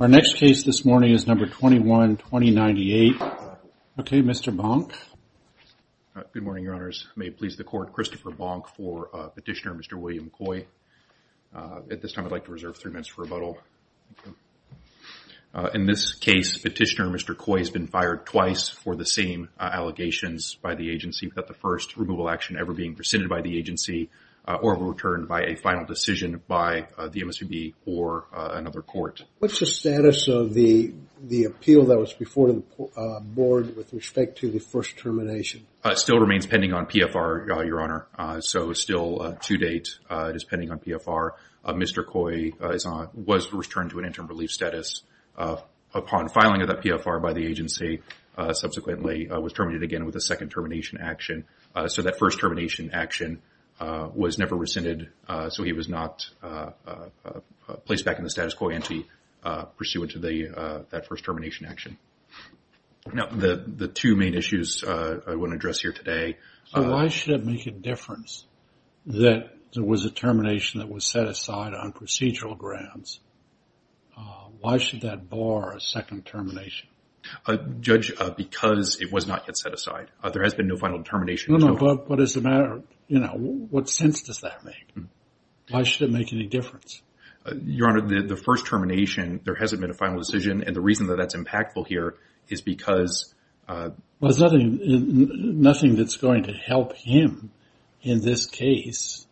Our next case this morning is number 21-2098. Okay, Mr. Bonk. Good morning, Your Honors. May it please the Court, Christopher Bonk for Petitioner Mr. William Coy. At this time, I'd like to reserve three minutes for rebuttal. In this case, Petitioner Mr. Coy has been fired twice for the same allegations by the agency without the first removal action ever being rescinded by the agency or returned by a final another court. What's the status of the appeal that was before the board with respect to the first termination? It still remains pending on PFR, Your Honor. So still to date, it is pending on PFR. Mr. Coy was returned to an interim relief status. Upon filing of that PFR by the agency, subsequently was terminated again with a second termination action. So that first termination action was never rescinded. So he was not placed back in the status quo ante pursuant to that first termination action. Now, the two main issues I want to address here today. So why should it make a difference that there was a termination that was set aside on procedural grounds? Why should that bar a second termination? Judge, because it was not yet set aside. There has been no final termination. No, but what is the matter? You know, what sense does that make? Why should it make any difference? Your Honor, the first termination, there hasn't been a final decision. And the reason that that's impactful here is because there's nothing that's going to help him in this case,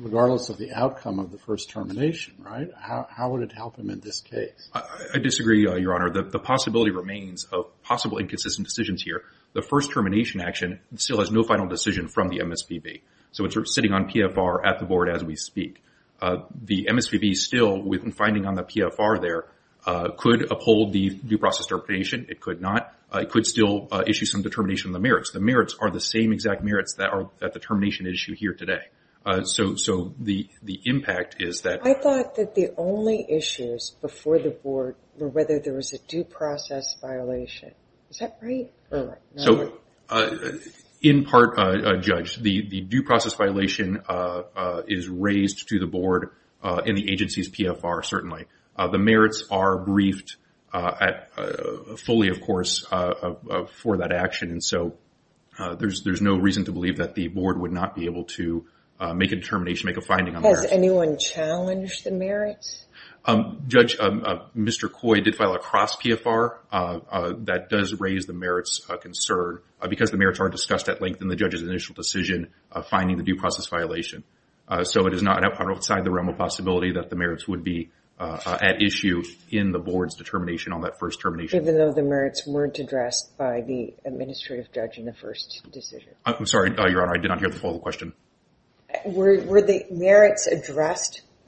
regardless of the outcome of the first termination, right? How would it help him in this case? I disagree, Your Honor. The possibility remains of possible inconsistent decisions here. The first termination action still has no final decision from the MSPB. So it's sitting on PFR at the board as we speak. The MSPB still, with finding on the PFR there, could uphold the due process termination. It could not. It could still issue some determination of the merits. The merits are the same exact merits that are at the termination issue here today. So the impact is that... whether there was a due process violation. Is that right? In part, Judge, the due process violation is raised to the board in the agency's PFR, certainly. The merits are briefed fully, of course, for that action. And so there's no reason to believe that the board would not be able to make a determination, make a finding on the merits. Has anyone challenged the merits? Judge, Mr. Coy did file across PFR. That does raise the merits concern because the merits aren't discussed at length in the judge's initial decision of finding the due process violation. So it is not outside the realm of possibility that the merits would be at issue in the board's determination on that first termination. Even though the merits weren't addressed by the administrative judge in the first decision? I'm sorry, Your Honor. I did not hear the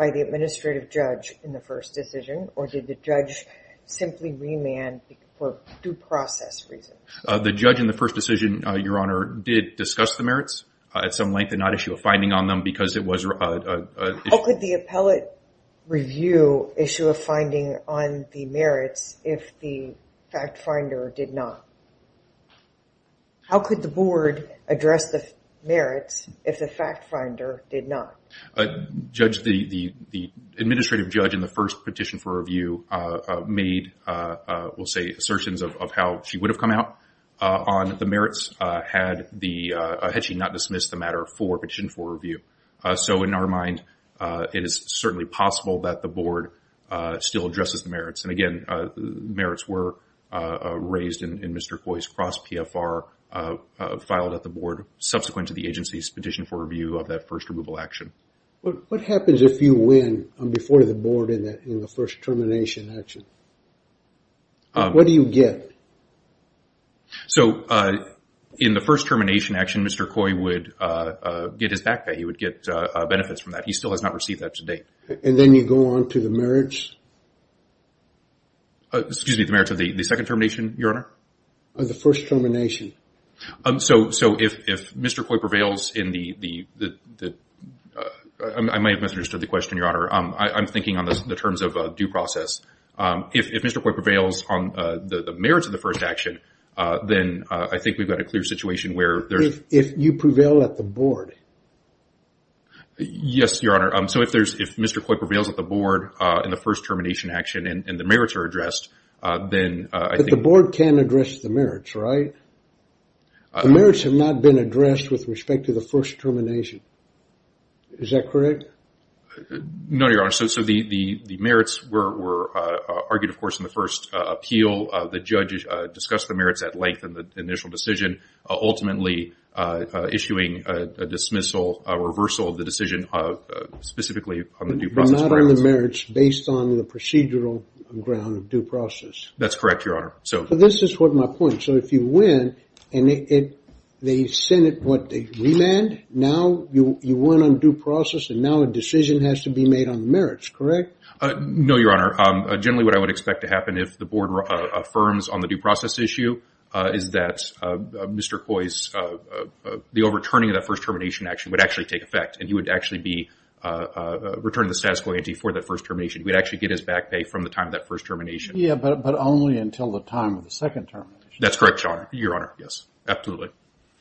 administrative judge in the first decision or did the judge simply remand for due process reasons? The judge in the first decision, Your Honor, did discuss the merits at some length and not issue a finding on them because it was... How could the appellate review issue a finding on the merits if the fact finder did not? How could the board address the merits if the fact finder did not? Judge, the administrative judge in the first petition for review made, we'll say, assertions of how she would have come out on the merits had she not dismissed the matter for petition for review. So in our mind, it is certainly possible that the board still addresses the merits. And again, merits were raised in Mr. Coy's cross PFR filed at the board subsequent to the agency's petition for review of that first removal action. What happens if you win before the board in the first termination action? What do you get? So in the first termination action, Mr. Coy would get his back pay. He would get benefits from that. He still has not received that to date. And then you go on to the merits? Excuse me, the merits of the second termination, Your Honor? The first termination. So if Mr. Coy prevails in the... I might have misunderstood the question, Your Honor. I'm thinking on the terms of due process. If Mr. Coy prevails on the merits of the first action, then I think we've got a clear situation where there's... If you prevail at the board? Yes, Your Honor. So if Mr. Coy prevails at the board in the first termination action and the merits, right? The merits have not been addressed with respect to the first termination. Is that correct? No, Your Honor. So the merits were argued, of course, in the first appeal. The judge discussed the merits at length in the initial decision, ultimately issuing a dismissal, a reversal of the decision of specifically on the due process... Not on the merits based on the procedural ground of due process. That's correct, Your Honor. So this is what my point... So if you win and they send it, what, they remand? Now you win on due process and now a decision has to be made on the merits, correct? No, Your Honor. Generally what I would expect to happen if the board affirms on the due process issue is that Mr. Coy's... The overturning of that first termination action would actually take effect and he would actually be returning the status quo ante for that first termination. He would actually get his back pay from the time of that first termination. Yeah, but only until the time of the second termination. That's correct, Your Honor. Yes, absolutely.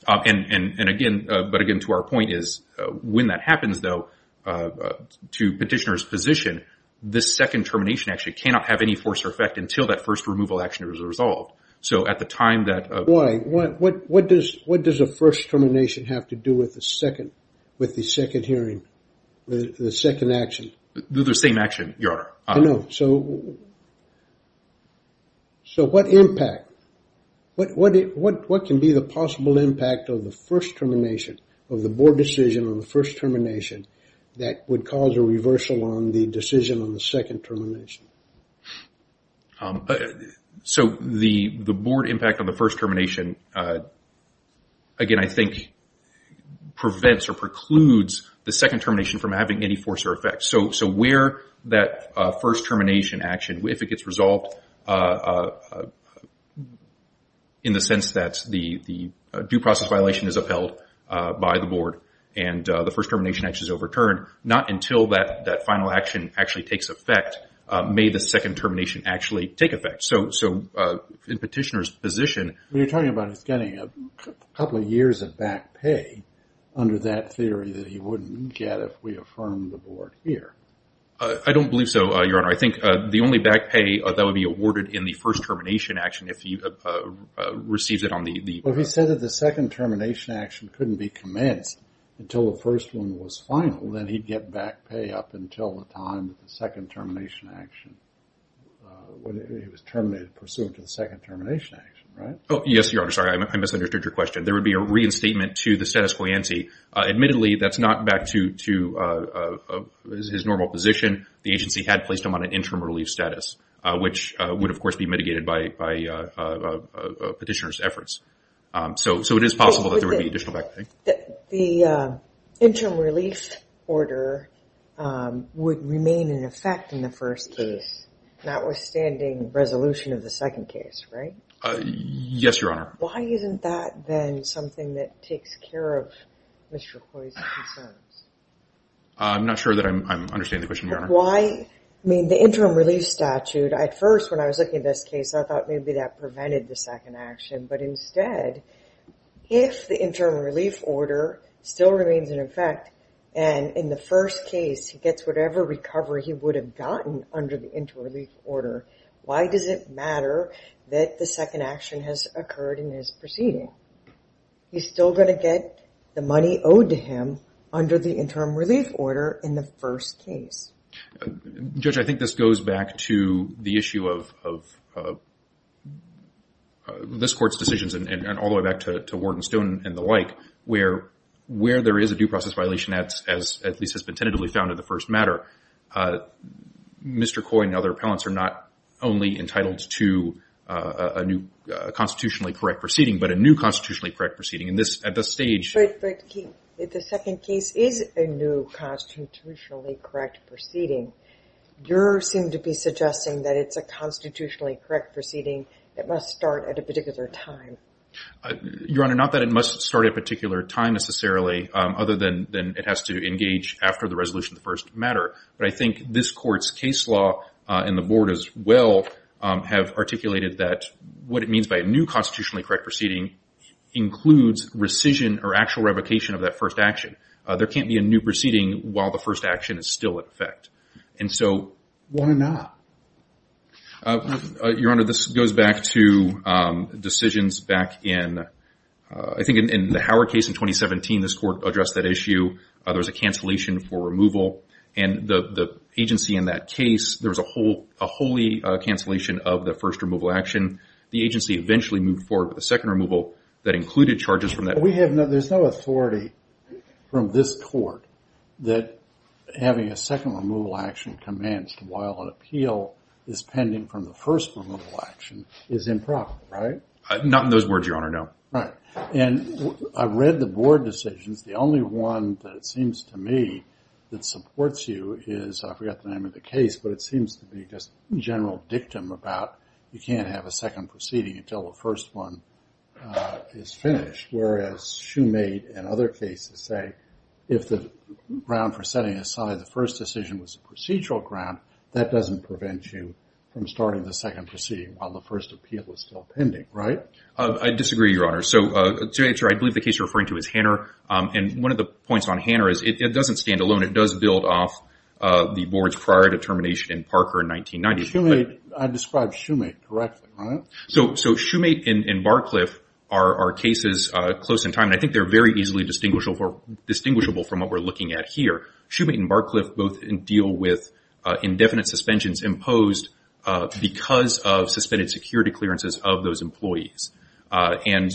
And again, but again to our point is when that happens, though, to petitioner's position, this second termination actually cannot have any force or effect until that first removal action is resolved. So at the time that... Why? What does a first termination have to do with the second, hearing the second action? The same action, Your Honor. I know. So what impact, what can be the possible impact of the first termination of the board decision on the first termination that would cause a reversal on the decision on the second termination? So the board impact on the first termination, again, I think prevents or precludes the second termination from having any force or effect. So where that first termination action, if it gets resolved in the sense that the due process violation is upheld by the board and the first termination action is overturned, not until that final action actually takes effect may the second termination actually take effect. So in petitioner's position... You're talking about it's getting a couple of years of back pay under that theory that he wouldn't get if we affirmed the board here. I don't believe so, Your Honor. I think the only back pay that would be awarded in the first termination action if he receives it on the... Well, he said that the second termination action couldn't be commenced until the first one was final. Then he'd get back pay up until the time that the second termination action... It was terminated pursuant to the second termination action, right? Yes, Your Honor. Sorry, I misunderstood your question. There would be a reinstatement to the status quo ante. Admittedly, that's not back to his normal position. The agency had placed him on an interim relief status, which would, of course, be mitigated by petitioner's efforts. So it is possible that there would be additional back pay. The interim relief order would remain in effect in the first case, notwithstanding resolution of the second case, right? Yes, Your Honor. Why isn't that then something that takes care of Mr. Khoi's concerns? I'm not sure that I'm understanding the question, Your Honor. Why... I mean, the interim relief statute, at first when I was looking at this case, I thought maybe that prevented the second action. But instead, if the interim relief order still remains in effect and in the first case he gets whatever recovery he would have gotten under the interim relief order, why does it matter that the second action has occurred in his proceeding? He's still going to get the money owed to him under the interim relief order in the first case. Judge, I think this goes back to the issue of this court's decisions and all the way back to Wharton Stone and the like, where there is a due process violation, as at least has been tentatively found in the first matter. Mr. Khoi and other appellants are not only entitled to a new constitutionally correct proceeding, but a new constitutionally correct proceeding. At this stage... But the second case is a new constitutionally correct proceeding. You seem to be suggesting that it's a constitutionally correct proceeding that must start at a particular time. Your Honor, not that it must start at a matter. But I think this court's case law and the board as well have articulated that what it means by a new constitutionally correct proceeding includes rescission or actual revocation of that first action. There can't be a new proceeding while the first action is still in effect. And so why not? Your Honor, this goes back to decisions back in... I think in the Howard case in 2017, this court addressed that issue. There was a cancellation for removal. And the agency in that case, there was a wholly cancellation of the first removal action. The agency eventually moved forward with a second removal that included charges from that. We have no... There's no authority from this court that having a second removal action commenced while an appeal is pending from the first removal action is improper, right? Not in those words, Your Honor, no. Right. And I read the board decisions. The only one that seems to me that supports you is, I forgot the name of the case, but it seems to be just general dictum about you can't have a second proceeding until the first one is finished. Whereas Shoemade and other cases say if the ground for setting aside the first decision was a procedural ground, that doesn't prevent you from starting the second proceeding while the first appeal is still pending, right? I disagree, Your Honor. So to answer, I believe the case you're referring to is Hanner. And one of the points on Hanner is it doesn't stand alone. It does build off the board's prior determination in Parker in 1990. I described Shoemade correctly, right? So Shoemade and Barcliff are cases close in time. And I think they're very easily distinguishable from what we're looking at here. Shoemade and Barcliff both deal with indefinite suspensions imposed because of suspended security clearances of those employees. And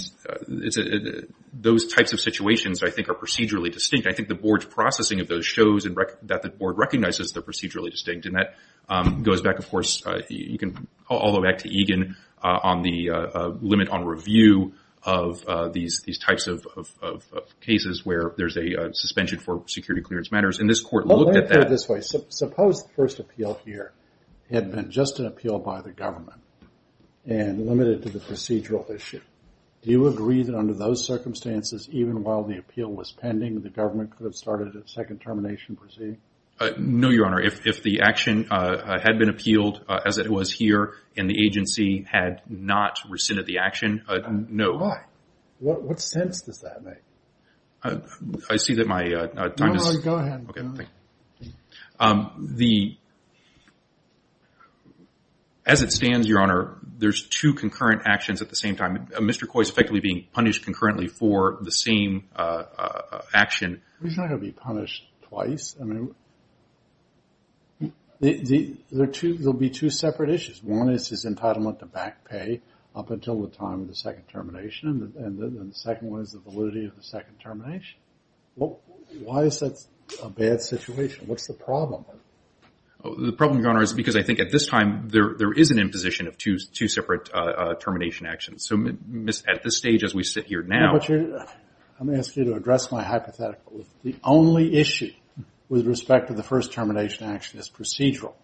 those types of situations, I think, are procedurally distinct. I think the board's processing of those shows that the board recognizes they're procedurally distinct. And that goes back, of course, you can all go back to Egan on the limit on review of these types of cases where there's a suspension for security clearance matters. And this court looked at that- Well, let me put it this way. Suppose the first appeal here had been just an appeal by the government and limited to the procedural issue. Do you agree that under those circumstances, even while the appeal was pending, the government could have started a second termination proceeding? No, Your Honor. If the action had been appealed as it was here and the agency had not rescinded the action, no. Why? What sense does that make? I see that my time is- There's two concurrent actions at the same time. Mr. Coy is effectively being punished concurrently for the same action. He's not going to be punished twice. There'll be two separate issues. One is his entitlement to back pay up until the time of the second termination. And the second one is the validity of the second termination. Why is that a bad situation? What's the problem? The problem, Your Honor, is because I think at two separate termination actions. So at this stage, as we sit here now- I'm asking you to address my hypothetical. The only issue with respect to the first termination action is procedural.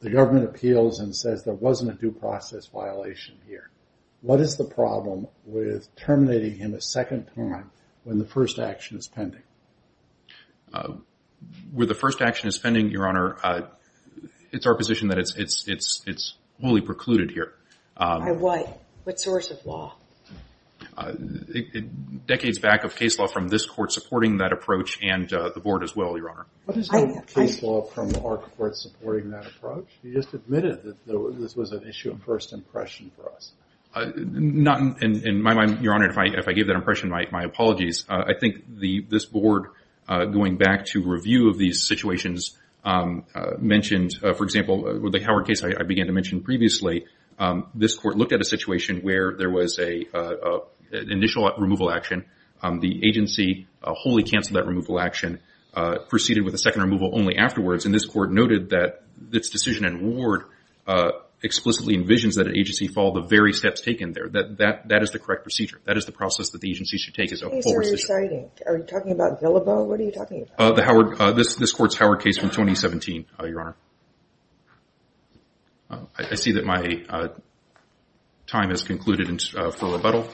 The government appeals and says there wasn't a due process violation here. What is the problem with terminating him a second time when the first action is pending? With the first action is pending, Your Honor, it's our position that it's fully precluded here. By what? What source of law? Decades back of case law from this court supporting that approach and the board as well, Your Honor. What is the case law from our court supporting that approach? You just admitted that this was an issue of first impression for us. In my mind, Your Honor, if I gave that impression, my apologies. I think this board, going back to review of these situations, mentioned, for example, with the Howard case I began to mention previously, this court looked at a situation where there was an initial removal action. The agency wholly canceled that removal action, proceeded with a second removal only afterwards. And this court noted that this decision and ward explicitly envisions that an agency follow the very steps taken there. That is the correct procedure. That is the process that the agency should take. Are you talking about Villalobo? What are you talking about? The Howard, this court's Howard case from 2017, Your Honor. I see that my time has concluded for rebuttal.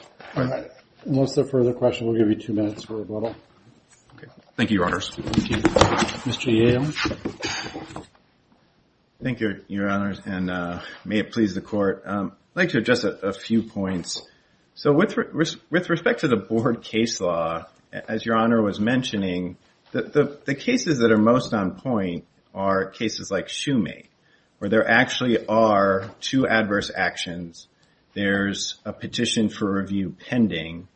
Unless there are further questions, we'll give you two minutes for rebuttal. Thank you, Your Honors. Thank you, Your Honors, and may it please the court. I'd like to address a few points. So with respect to the board case law, as Your Honor was mentioning, the cases that are most on point are cases like Shumate, where there actually are two adverse actions. There's a petition for review pending,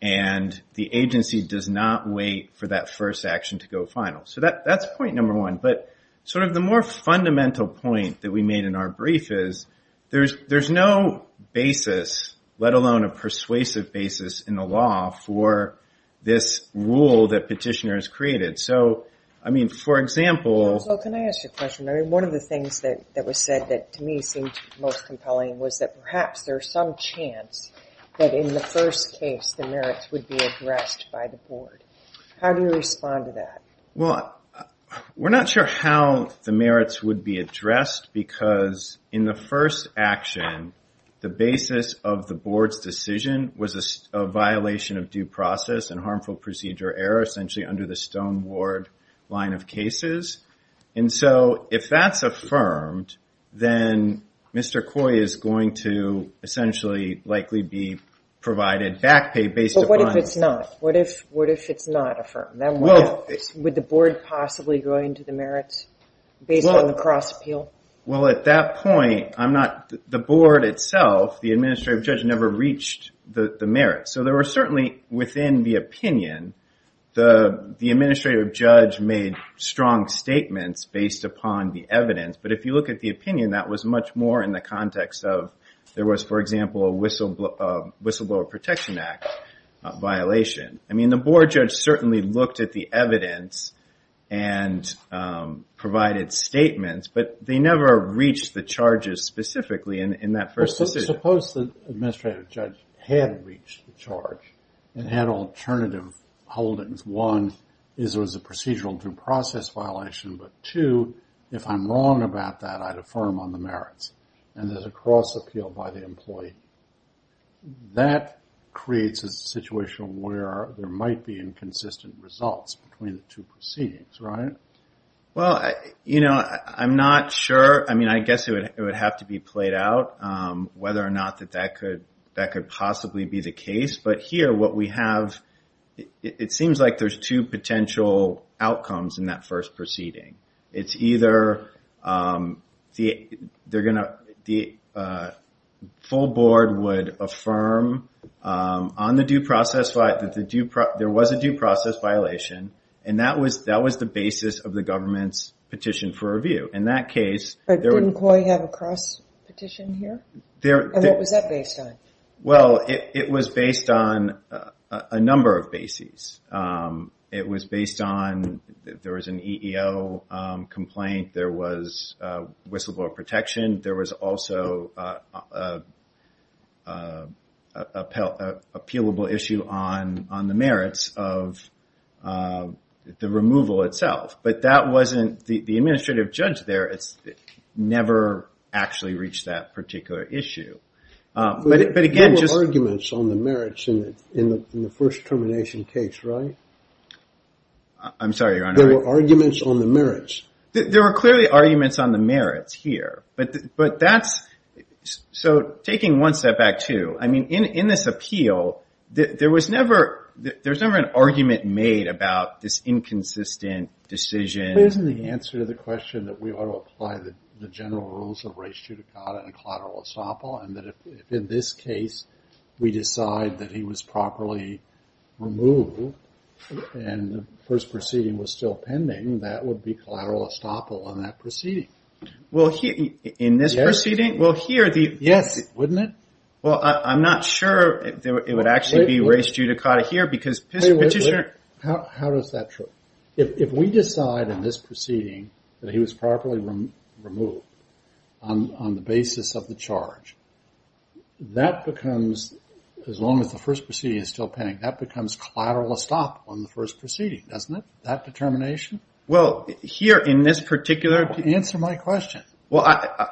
and the agency does not wait for that first action to go final. So that's point number one. But sort of the more fundamental point that we made in our brief is there's no basis, let alone a persuasive basis, in the law for this rule that Petitioner has created. So, I mean, for example... Well, can I ask you a question? I mean, one of the things that was said that to me seemed most compelling was that perhaps there's some chance that in the first case the merits would be addressed by the board. How do you respond to that? Well, we're not sure how the merits would be addressed because in the first action, the basis of the board's decision was a violation of due process and harmful procedure error, essentially under the Stone Ward line of cases. And so if that's affirmed, then Mr. Coy is going to essentially likely be provided back pay based upon... But what if it's not? What if it's not affirmed? Would the board possibly go into the merits based on the cross appeal? Well, at that point, I'm not... The board itself, the administrative judge never reached the merits. So there were certainly within the opinion, the administrative judge made strong statements based upon the evidence. But if you look at the opinion, that was much more in the I mean, the board judge certainly looked at the evidence and provided statements, but they never reached the charges specifically in that first decision. Suppose the administrative judge had reached the charge and had alternative holdings. One, is there was a procedural due process violation, but two, if I'm wrong about that, I'd affirm on the merits and there's a cross appeal by the employee. That creates a situation where there might be inconsistent results between the two proceedings, right? Well, I'm not sure. I mean, I guess it would have to be played out whether or not that could possibly be the case. But here what we have, it seems like there's two potential outcomes in that that there was a due process violation. And that was the basis of the government's petition for review. In that case... But didn't COI have a cross petition here? And what was that based on? Well, it was based on a number of bases. It was based on, there was an EEO complaint. There was whistleblower protection. There was also a appealable issue on the merits of the removal itself. But that wasn't... The administrative judge there never actually reached that particular issue. But again... There were arguments on the merits in the first termination case, right? I'm sorry, Your Honor. There were arguments on the merits. There were clearly arguments on the merits here. But that's... So taking one step back too, I mean, in this appeal, there was never an argument made about this inconsistent decision. Isn't the answer to the question that we ought to apply the general rules of res judicata and collateral estoppel? And that if in this case, we decide that he was properly removed and the first proceeding was still pending, that would be collateral estoppel on that proceeding. Well, in this proceeding? Well, here the... Yes. Wouldn't it? Well, I'm not sure it would actually be res judicata here because petitioner... How does that show? If we decide in this proceeding that he was properly removed on the basis of the charge, that becomes, as long as the first proceeding is still pending, that becomes collateral estoppel on the first proceeding, doesn't it? That determination? Well, here in this particular... Answer my question. Well,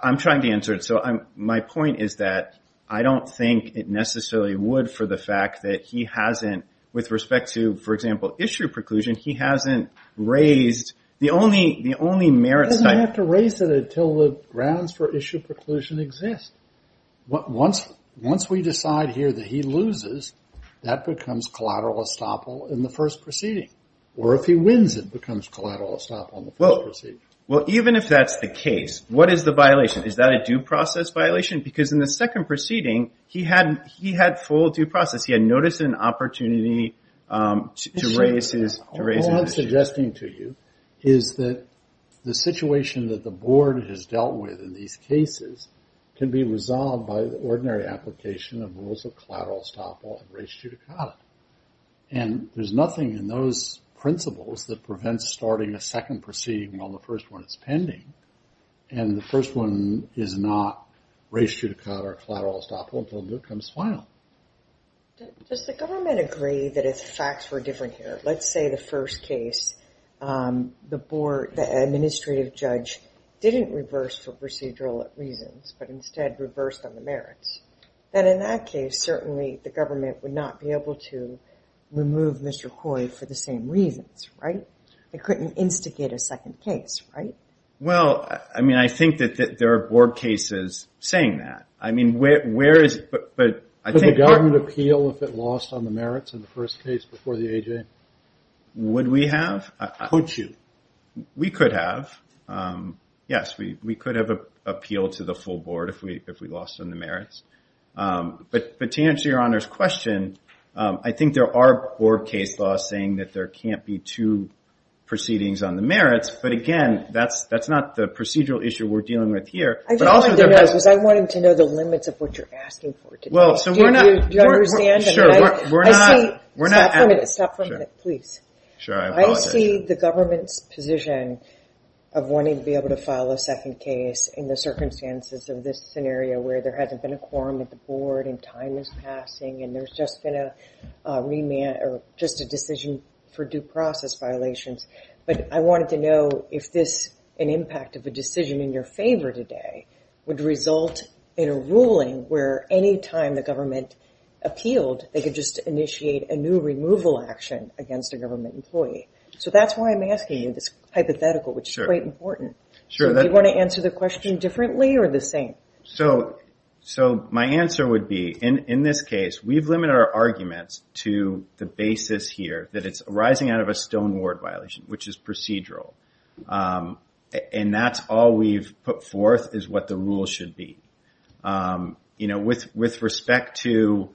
I'm trying to answer it. So my point is that I don't think it necessarily would for the fact that he hasn't, with respect to, for example, issue preclusion, he hasn't raised the only merits... I have to raise it until the grounds for issue preclusion exist. Once we decide here that he loses, that becomes collateral estoppel in the first proceeding. Or if he wins, it becomes collateral estoppel in the first proceeding. Well, even if that's the case, what is the violation? Is that a due process violation? Because in the second proceeding, he had full due process. He had noticed an opportunity to raise his... The violation that the board has dealt with in these cases can be resolved by the ordinary application of rules of collateral estoppel and res judicata. And there's nothing in those principles that prevents starting a second proceeding while the first one is pending. And the first one is not res judicata or collateral estoppel until it becomes final. Does the government agree that if facts were different here, let's say the first case, the board, the administrative judge, didn't reverse for procedural reasons, but instead reversed on the merits. Then in that case, certainly the government would not be able to remove Mr. Coy for the same reasons, right? They couldn't instigate a second case, right? Well, I mean, I think that there are board cases saying that. I mean, where is... Does the government appeal if it lost on the merits in the first case before the AJ? Would we have? Could you? We could have. Yes, we could have appealed to the full board if we lost on the merits. But to answer your Honor's question, I think there are board case laws saying that there can't be two proceedings on the merits. But again, that's not the procedural issue we're dealing with here. I just wanted to know, because I wanted to know the limits of what you're asking for today. Well, so we're not... Do you understand? Sure, we're not... I see. Stop for a minute, please. Sure, I apologize. I see the government's position of wanting to be able to file a second case in the circumstances of this scenario where there hasn't been a quorum at the board and time is passing and there's just been a remand or just a decision for due process violations. But I wanted to know if this, an impact of a decision in your favor today, would result in a ruling where any time the government appealed, they could just initiate a new removal action against a government employee. So that's why I'm asking you this hypothetical, which is quite important. Sure. Do you want to answer the question differently or the same? So my answer would be, in this case, we've limited our arguments to the basis here that it's arising out of a stone ward violation, which is procedural. And that's all we've put forth is what the rule should be. With respect to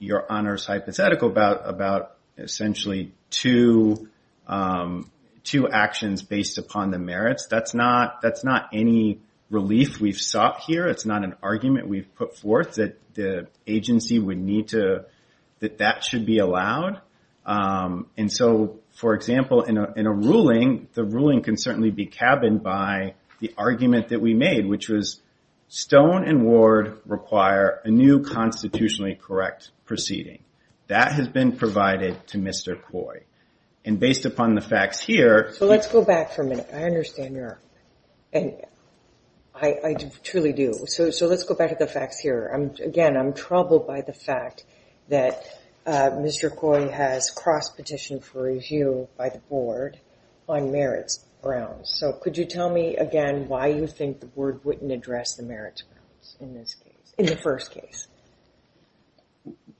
your honors hypothetical about essentially two actions based upon the merits, that's not any relief we've sought here. It's not an argument we've put forth that the agency would need to... That that should be allowed. And so, for example, in a ruling, the ruling can certainly be cabined by the argument that we made, which was stone and ward require a new constitutionally correct proceeding. That has been provided to Mr. Coy. And based upon the facts here... So let's go back for a minute. I understand your... And I truly do. So let's go back to the facts here. Again, I'm troubled by the fact that Mr. Coy has crossed petition for review by the board on merits grounds. So could you tell me again why you think the board wouldn't address the merits grounds in this case, in the first case?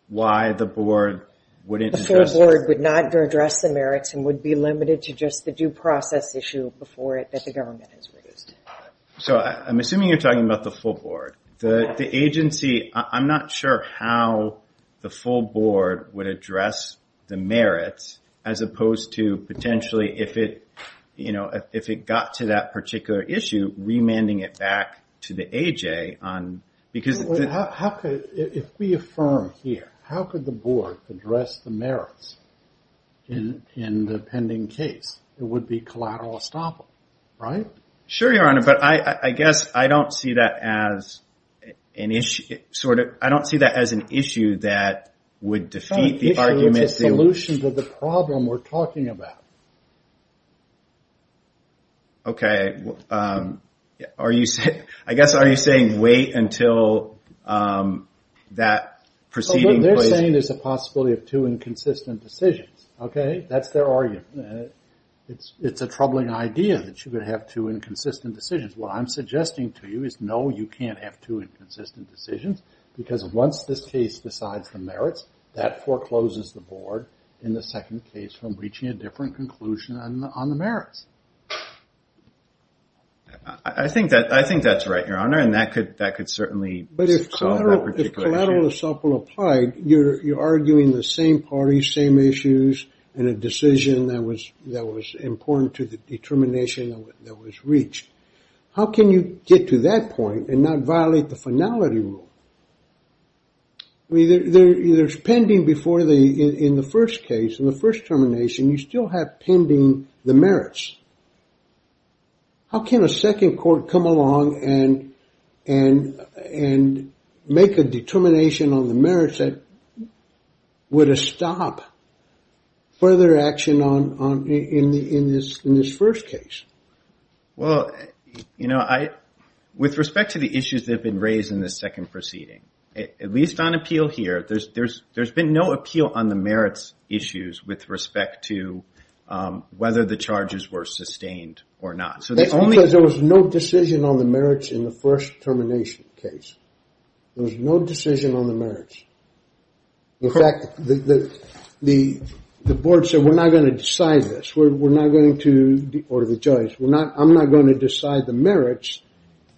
Why the board wouldn't... The full board would not address the merits and would be limited to just the due process issue before it, that the government has raised. So I'm assuming you're talking about the full board. The agency, I'm not sure how the full board would address the merits as opposed to potentially, if it got to that particular issue, remanding it back to the AJ on... If we affirm here, how could the board address the merits in the pending case? It would be collateral estoppel, right? Sure, Your Honor. But I guess I don't see that as an issue that would defeat the arguments... Okay. Are you saying... I guess, are you saying wait until that proceeding... They're saying there's a possibility of two inconsistent decisions, okay? That's their argument. It's a troubling idea that you could have two inconsistent decisions. What I'm suggesting to you is, no, you can't have two inconsistent decisions because once this case decides the on the merits. I think that's right, Your Honor, and that could certainly... But if collateral estoppel applied, you're arguing the same parties, same issues, and a decision that was important to the determination that was reached. How can you get to that point and not violate the finality rule? There's pending before the... In the first case, in the first termination, you still have pending the merits. How can a second court come along and make a determination on the merits that would stop further action in this first case? Well, with respect to the issues that have been raised in the second proceeding, at least on appeal here, there's been no appeal on the merits issues with respect to whether the charges were sustained or not. That's because there was no decision on the merits in the first termination case. There was no decision on the merits. In fact, the board said, we're not going to decide this. We're not going to... Or the judge. I'm not going to decide the merits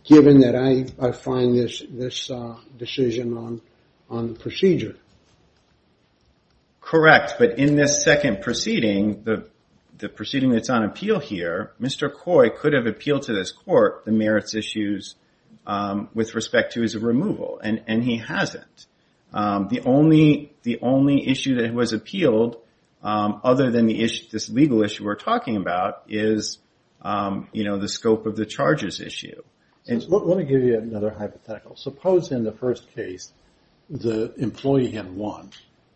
given that I find this decision on the procedure. Correct. But in this second proceeding, the proceeding that's on appeal here, Mr. Coy could have appealed to this court the merits issues with respect to his removal, and he hasn't. The only issue that was appealed, other than this legal issue we're talking about, is the scope of the charges issue. Let me give you another hypothetical. Suppose in the first case, the employee had won,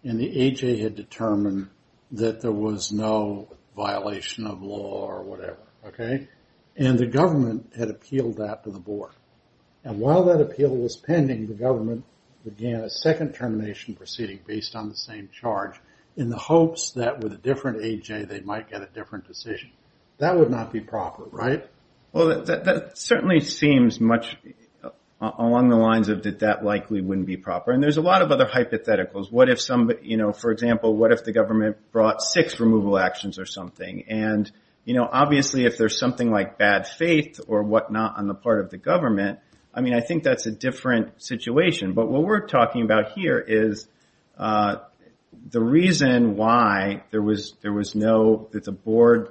and the AJ had determined that there was no violation of law or whatever. And the government had appealed that to the board. And while that appeal was pending, the government began a second termination proceeding based on the same charge in the hopes that with a different AJ, they might get a different decision. That would not be proper, right? Well, that certainly seems much along the lines of that that likely wouldn't be proper. And there's a lot of other hypotheticals. For example, what if the government brought six removal actions or something? And obviously, if there's something like bad faith or whatnot on the part of the government, I mean, I think that's a different situation. But what we're talking about here is that the reason why there was no, that the board,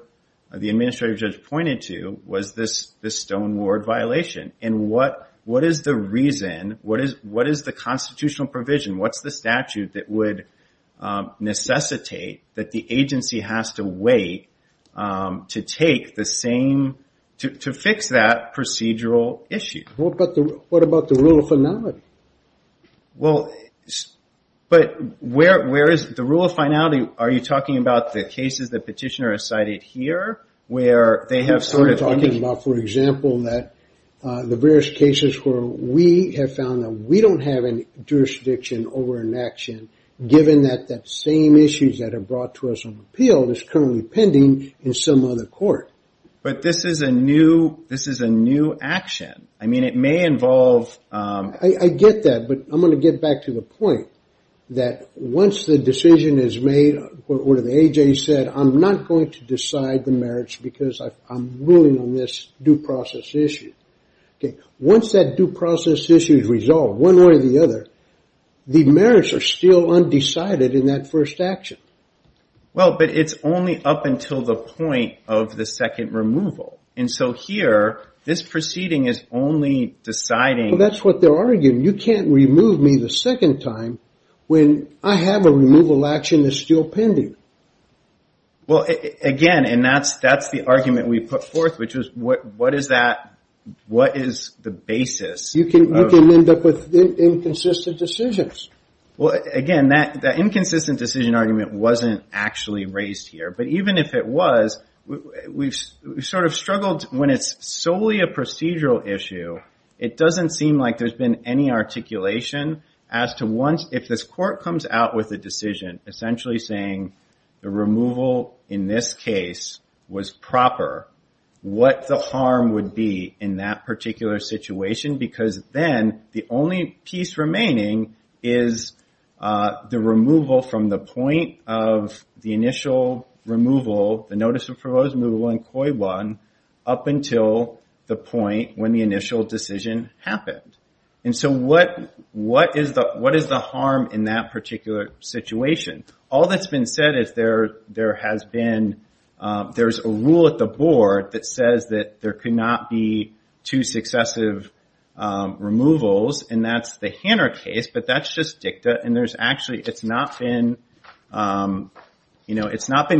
the administrative judge pointed to, was this Stone Ward violation. And what is the reason? What is the constitutional provision? What's the statute that would necessitate that the agency has to wait to take the same, to fix that procedural issue? What about the rule of finality? Well, but where is the rule of finality? Are you talking about the cases that petitioner has cited here, where they have sort of- I'm talking about, for example, that the various cases where we have found that we don't have any jurisdiction over an action, given that that same issues that are brought to us on appeal is currently pending in some other court. But this is a new action. I mean, it may involve- I get that, but I'm going to get back to the point that once the decision is made, what the AJ said, I'm not going to decide the merits because I'm ruling on this due process issue. Once that due process issue is resolved, one way or the other, the merits are still undecided in that first action. Well, but it's only up until the point of the second removal. And so here, this proceeding is only deciding- That's what they're arguing. You can't remove me the second time when I have a removal action that's still pending. Well, again, and that's the argument we put forth, which is what is the basis of- You can end up with inconsistent decisions. Well, again, that inconsistent decision argument wasn't actually raised here. But even if it was, we've sort of struggled when it's solely a procedural issue, it doesn't seem like there's been any articulation as to once if this court comes out with a decision, essentially saying the removal in this case was proper, what the harm would be in that particular situation. Because then the only piece remaining is the removal from the point of the initial removal, the notice of proposed removal in COI-1 up until the point when the initial decision happened. And so what is the harm in that particular situation? All that's been said is there has been, there's a rule at the board that says that there could not be two successive removals, and that's the Hanner case, but that's just dicta. And there's actually, it's not been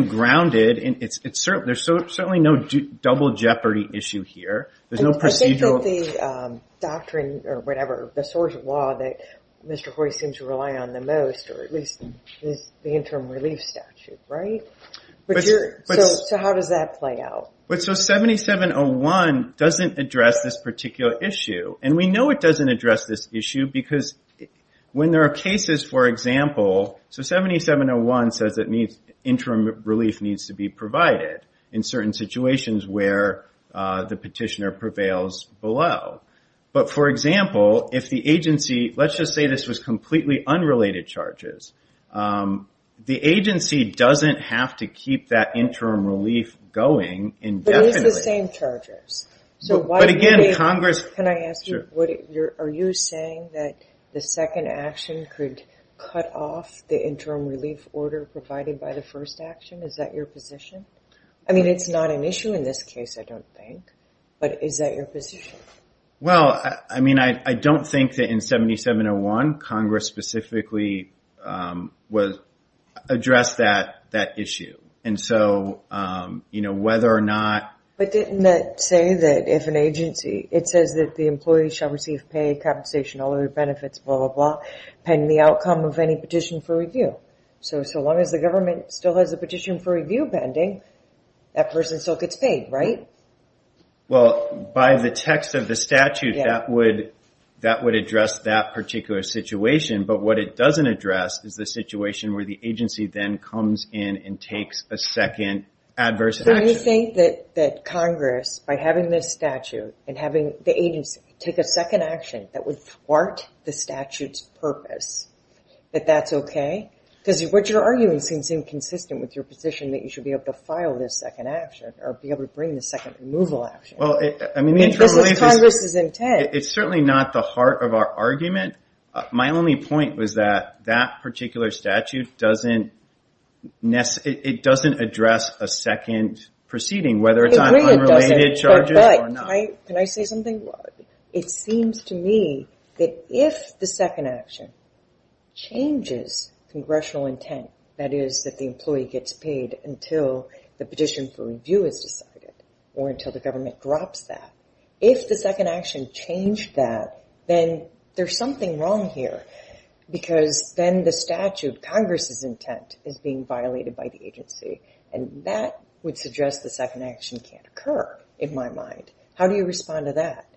grounded. There's certainly no double jeopardy issue here. There's no procedural- I think that the doctrine or whatever, the source of law that Mr. Hoy seems to rely on the most, or at least the interim relief statute, right? So how does that play out? So 7701 doesn't address this particular issue. And we know it doesn't address this issue because when there are cases, for example, so 7701 says that interim relief needs to be provided in certain situations where the petitioner prevails below. But for example, if the agency, let's just say this was completely unrelated charges, the agency doesn't have to keep that interim relief going indefinitely. But it's the same charges. But again, Congress- Can I ask you, are you saying that the second action could cut off the interim relief order provided by the first action? Is that your position? I mean, it's not an issue in this case, I don't think, but is that your position? Well, I mean, I don't think that in 7701, Congress specifically addressed that issue. And so whether or not- But didn't that say that if an agency, it says that the employee shall receive pay, capitalization, all other benefits, blah, blah, blah, pending the outcome of any petition for review. So as long as the government still has a petition for review pending, that person still gets paid, right? Well, by the text of the statute, that would address that particular situation. But what it doesn't address is the situation where the agency then comes in and takes a second adverse action. Do you think that Congress, by having this statute and having the agency take a second action that would thwart the statute's purpose, that that's okay? Because what you're arguing seems inconsistent with your position that you should be able to file this second action or be able to bring the second removal action. This is Congress's intent. It's certainly not the heart of our argument. My only point was that that particular statute doesn't address a second proceeding, whether it's on unrelated charges or not. Can I say something? It seems to me that if the second action changes congressional intent, that is that the employee gets paid until the petition for review is decided or until the government drops that, if the second action changed that, then there's something wrong here. Because then the statute, Congress's intent, is being violated by the agency. And that would suggest the second action can't occur, in my mind. How do you respond to that?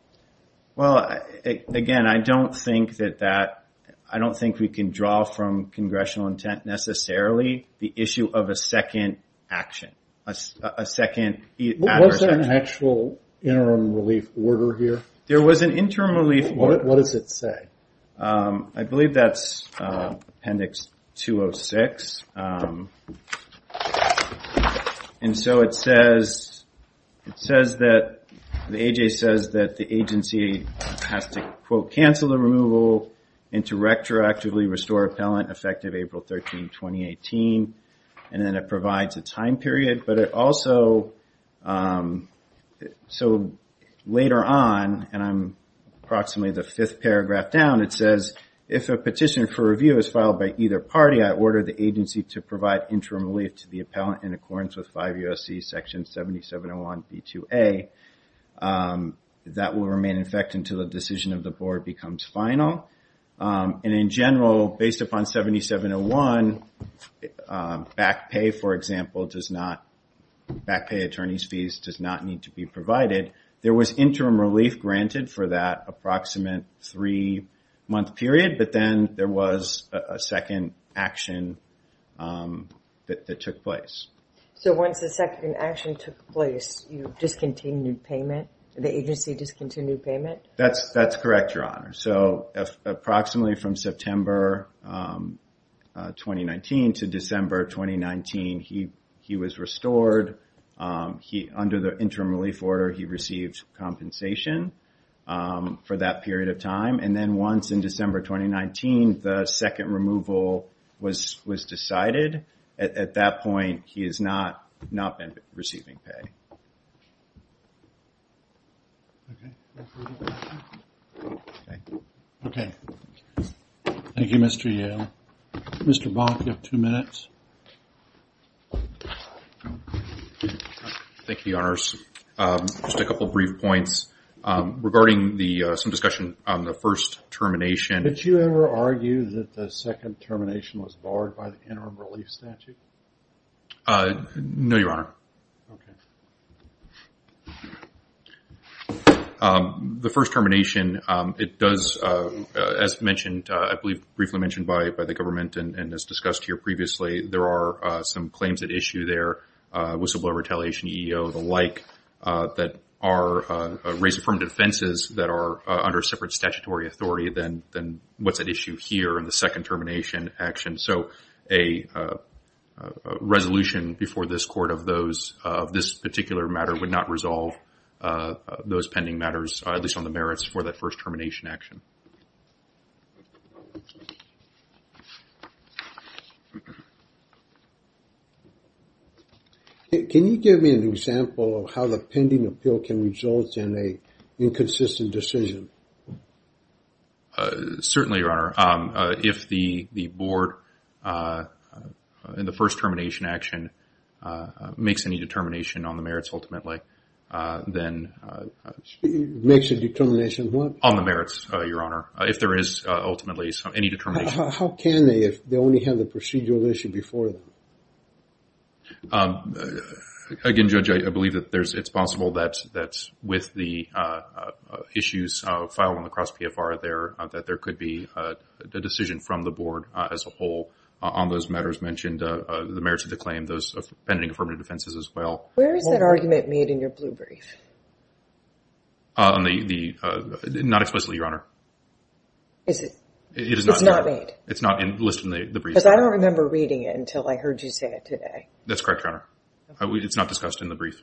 Well, again, I don't think that that, I don't think we can draw from congressional intent necessarily the issue of a second action, a second adverse action. Was there an actual interim relief order here? There was an interim relief order. What does it say? I believe that's Appendix 206. And so it says that the agency has to, quote, cancel the removal and to retroactively restore appellant effective April 13, 2018. And then it provides a time period. But it also, so later on, and I'm approximately the fifth paragraph down, it says, if a petition for review is filed by either party, I order the agency to provide interim relief to the appellant in accordance with 5 U.S.C. Section 7701b2a. That will remain in effect until the decision of the board becomes final. And in general, based upon 7701, back pay, for example, does not, back pay attorney's fees does not need to be provided. There was interim relief granted for that approximate three-month period, but then there was a second action that took place. So once the second action took place, you discontinued payment? The agency discontinued payment? That's correct, Your Honor. So approximately from September 2019 to December 2019, he was restored. Under the interim relief order, he received compensation for that period of time. And then once in December 2019, the second removal was decided. At that point, he has not been receiving pay. Mr. Bonk, you have two minutes. Thank you, Your Honors. Just a couple brief points regarding some discussion on the first termination. Did you ever argue that the second termination was barred by the interim relief statute? No, Your Honor. Okay. The first termination, it does, as mentioned, I believe briefly mentioned by the government and as discussed here previously, there are some claims at issue there, whistleblower retaliation, EEO, the like, that are raised from defenses that are under separate statutory authority than what's at issue here in the second termination action. So a resolution before this court of this particular matter would not resolve those pending matters, at least on the merits for that first termination action. Can you give me an example of how the pending appeal can result in a inconsistent decision? Certainly, Your Honor. If the board in the first termination action makes any determination on the merits, ultimately, then... Makes a determination on what? On the merits, Your Honor, if there is ultimately any determination. How can they if they only have the procedural issue before them? Again, Judge, I believe that it's possible that with the issues of the first termination filed on the cross PFR there, that there could be a decision from the board as a whole on those matters mentioned, the merits of the claim, those pending affirmative defenses as well. Where is that argument made in your blue brief? Not explicitly, Your Honor. Is it? It's not made? It's not listed in the brief. Because I don't remember reading it until I heard you say it today. That's correct, Your Honor. It's not discussed in the brief.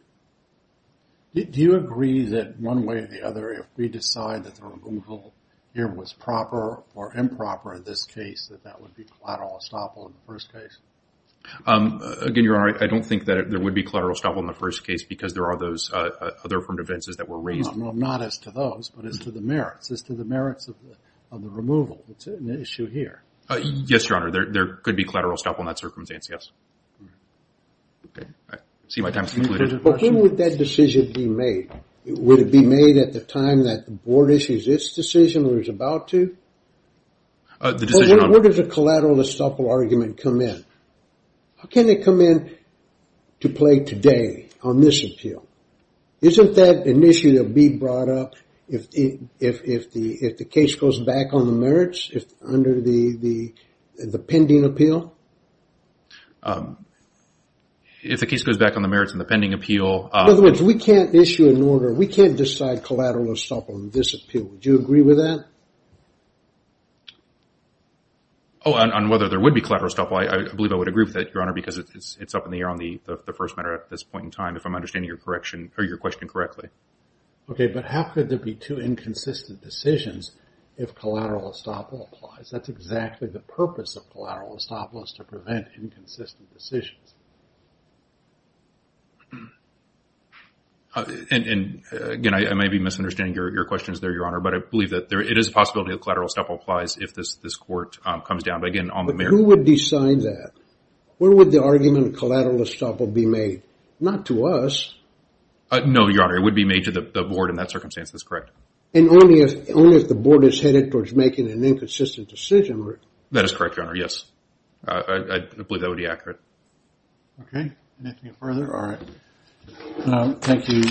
Do you agree that one way or the other, if we decide that the removal here was proper or improper in this case, that that would be collateral estoppel in the first case? Again, Your Honor, I don't think that there would be collateral estoppel in the first case because there are those other affirmative defenses that were raised. Not as to those, but as to the merits. As to the merits of the removal. It's an issue here. Yes, Your Honor. There could be collateral estoppel in that circumstance, yes. Okay. I see my time has concluded. But when would that decision be made? Would it be made at the time that the board issues its decision or is about to? The decision on... When does a collateral estoppel argument come in? How can it come in to play today on this appeal? Isn't that an issue that will be brought up if the case goes back on the merits? If under the pending appeal? If the case goes back on the merits and the pending appeal... In other words, we can't issue an order. We can't decide collateral estoppel on this appeal. Would you agree with that? Oh, on whether there would be collateral estoppel, I believe I would agree with that, Your Honor, because it's up in the air on the first matter at this point in time, if I'm understanding your question correctly. Okay, but how could there be two inconsistent decisions if collateral estoppel applies? That's exactly the purpose of collateral estoppel. It's to prevent inconsistent decisions. And again, I may be misunderstanding your questions there, Your Honor, but I believe that it is a possibility that collateral estoppel applies if this court comes down. But again, on the merits... Who would decide that? Where would the argument of collateral estoppel be made? Not to us. No, Your Honor, it would be made to the board in that circumstance. That's correct. And only if the board is headed towards making an inconsistent decision. That is correct, Your Honor. Yes, I believe that would be accurate. Okay, anything further? All right, thank you.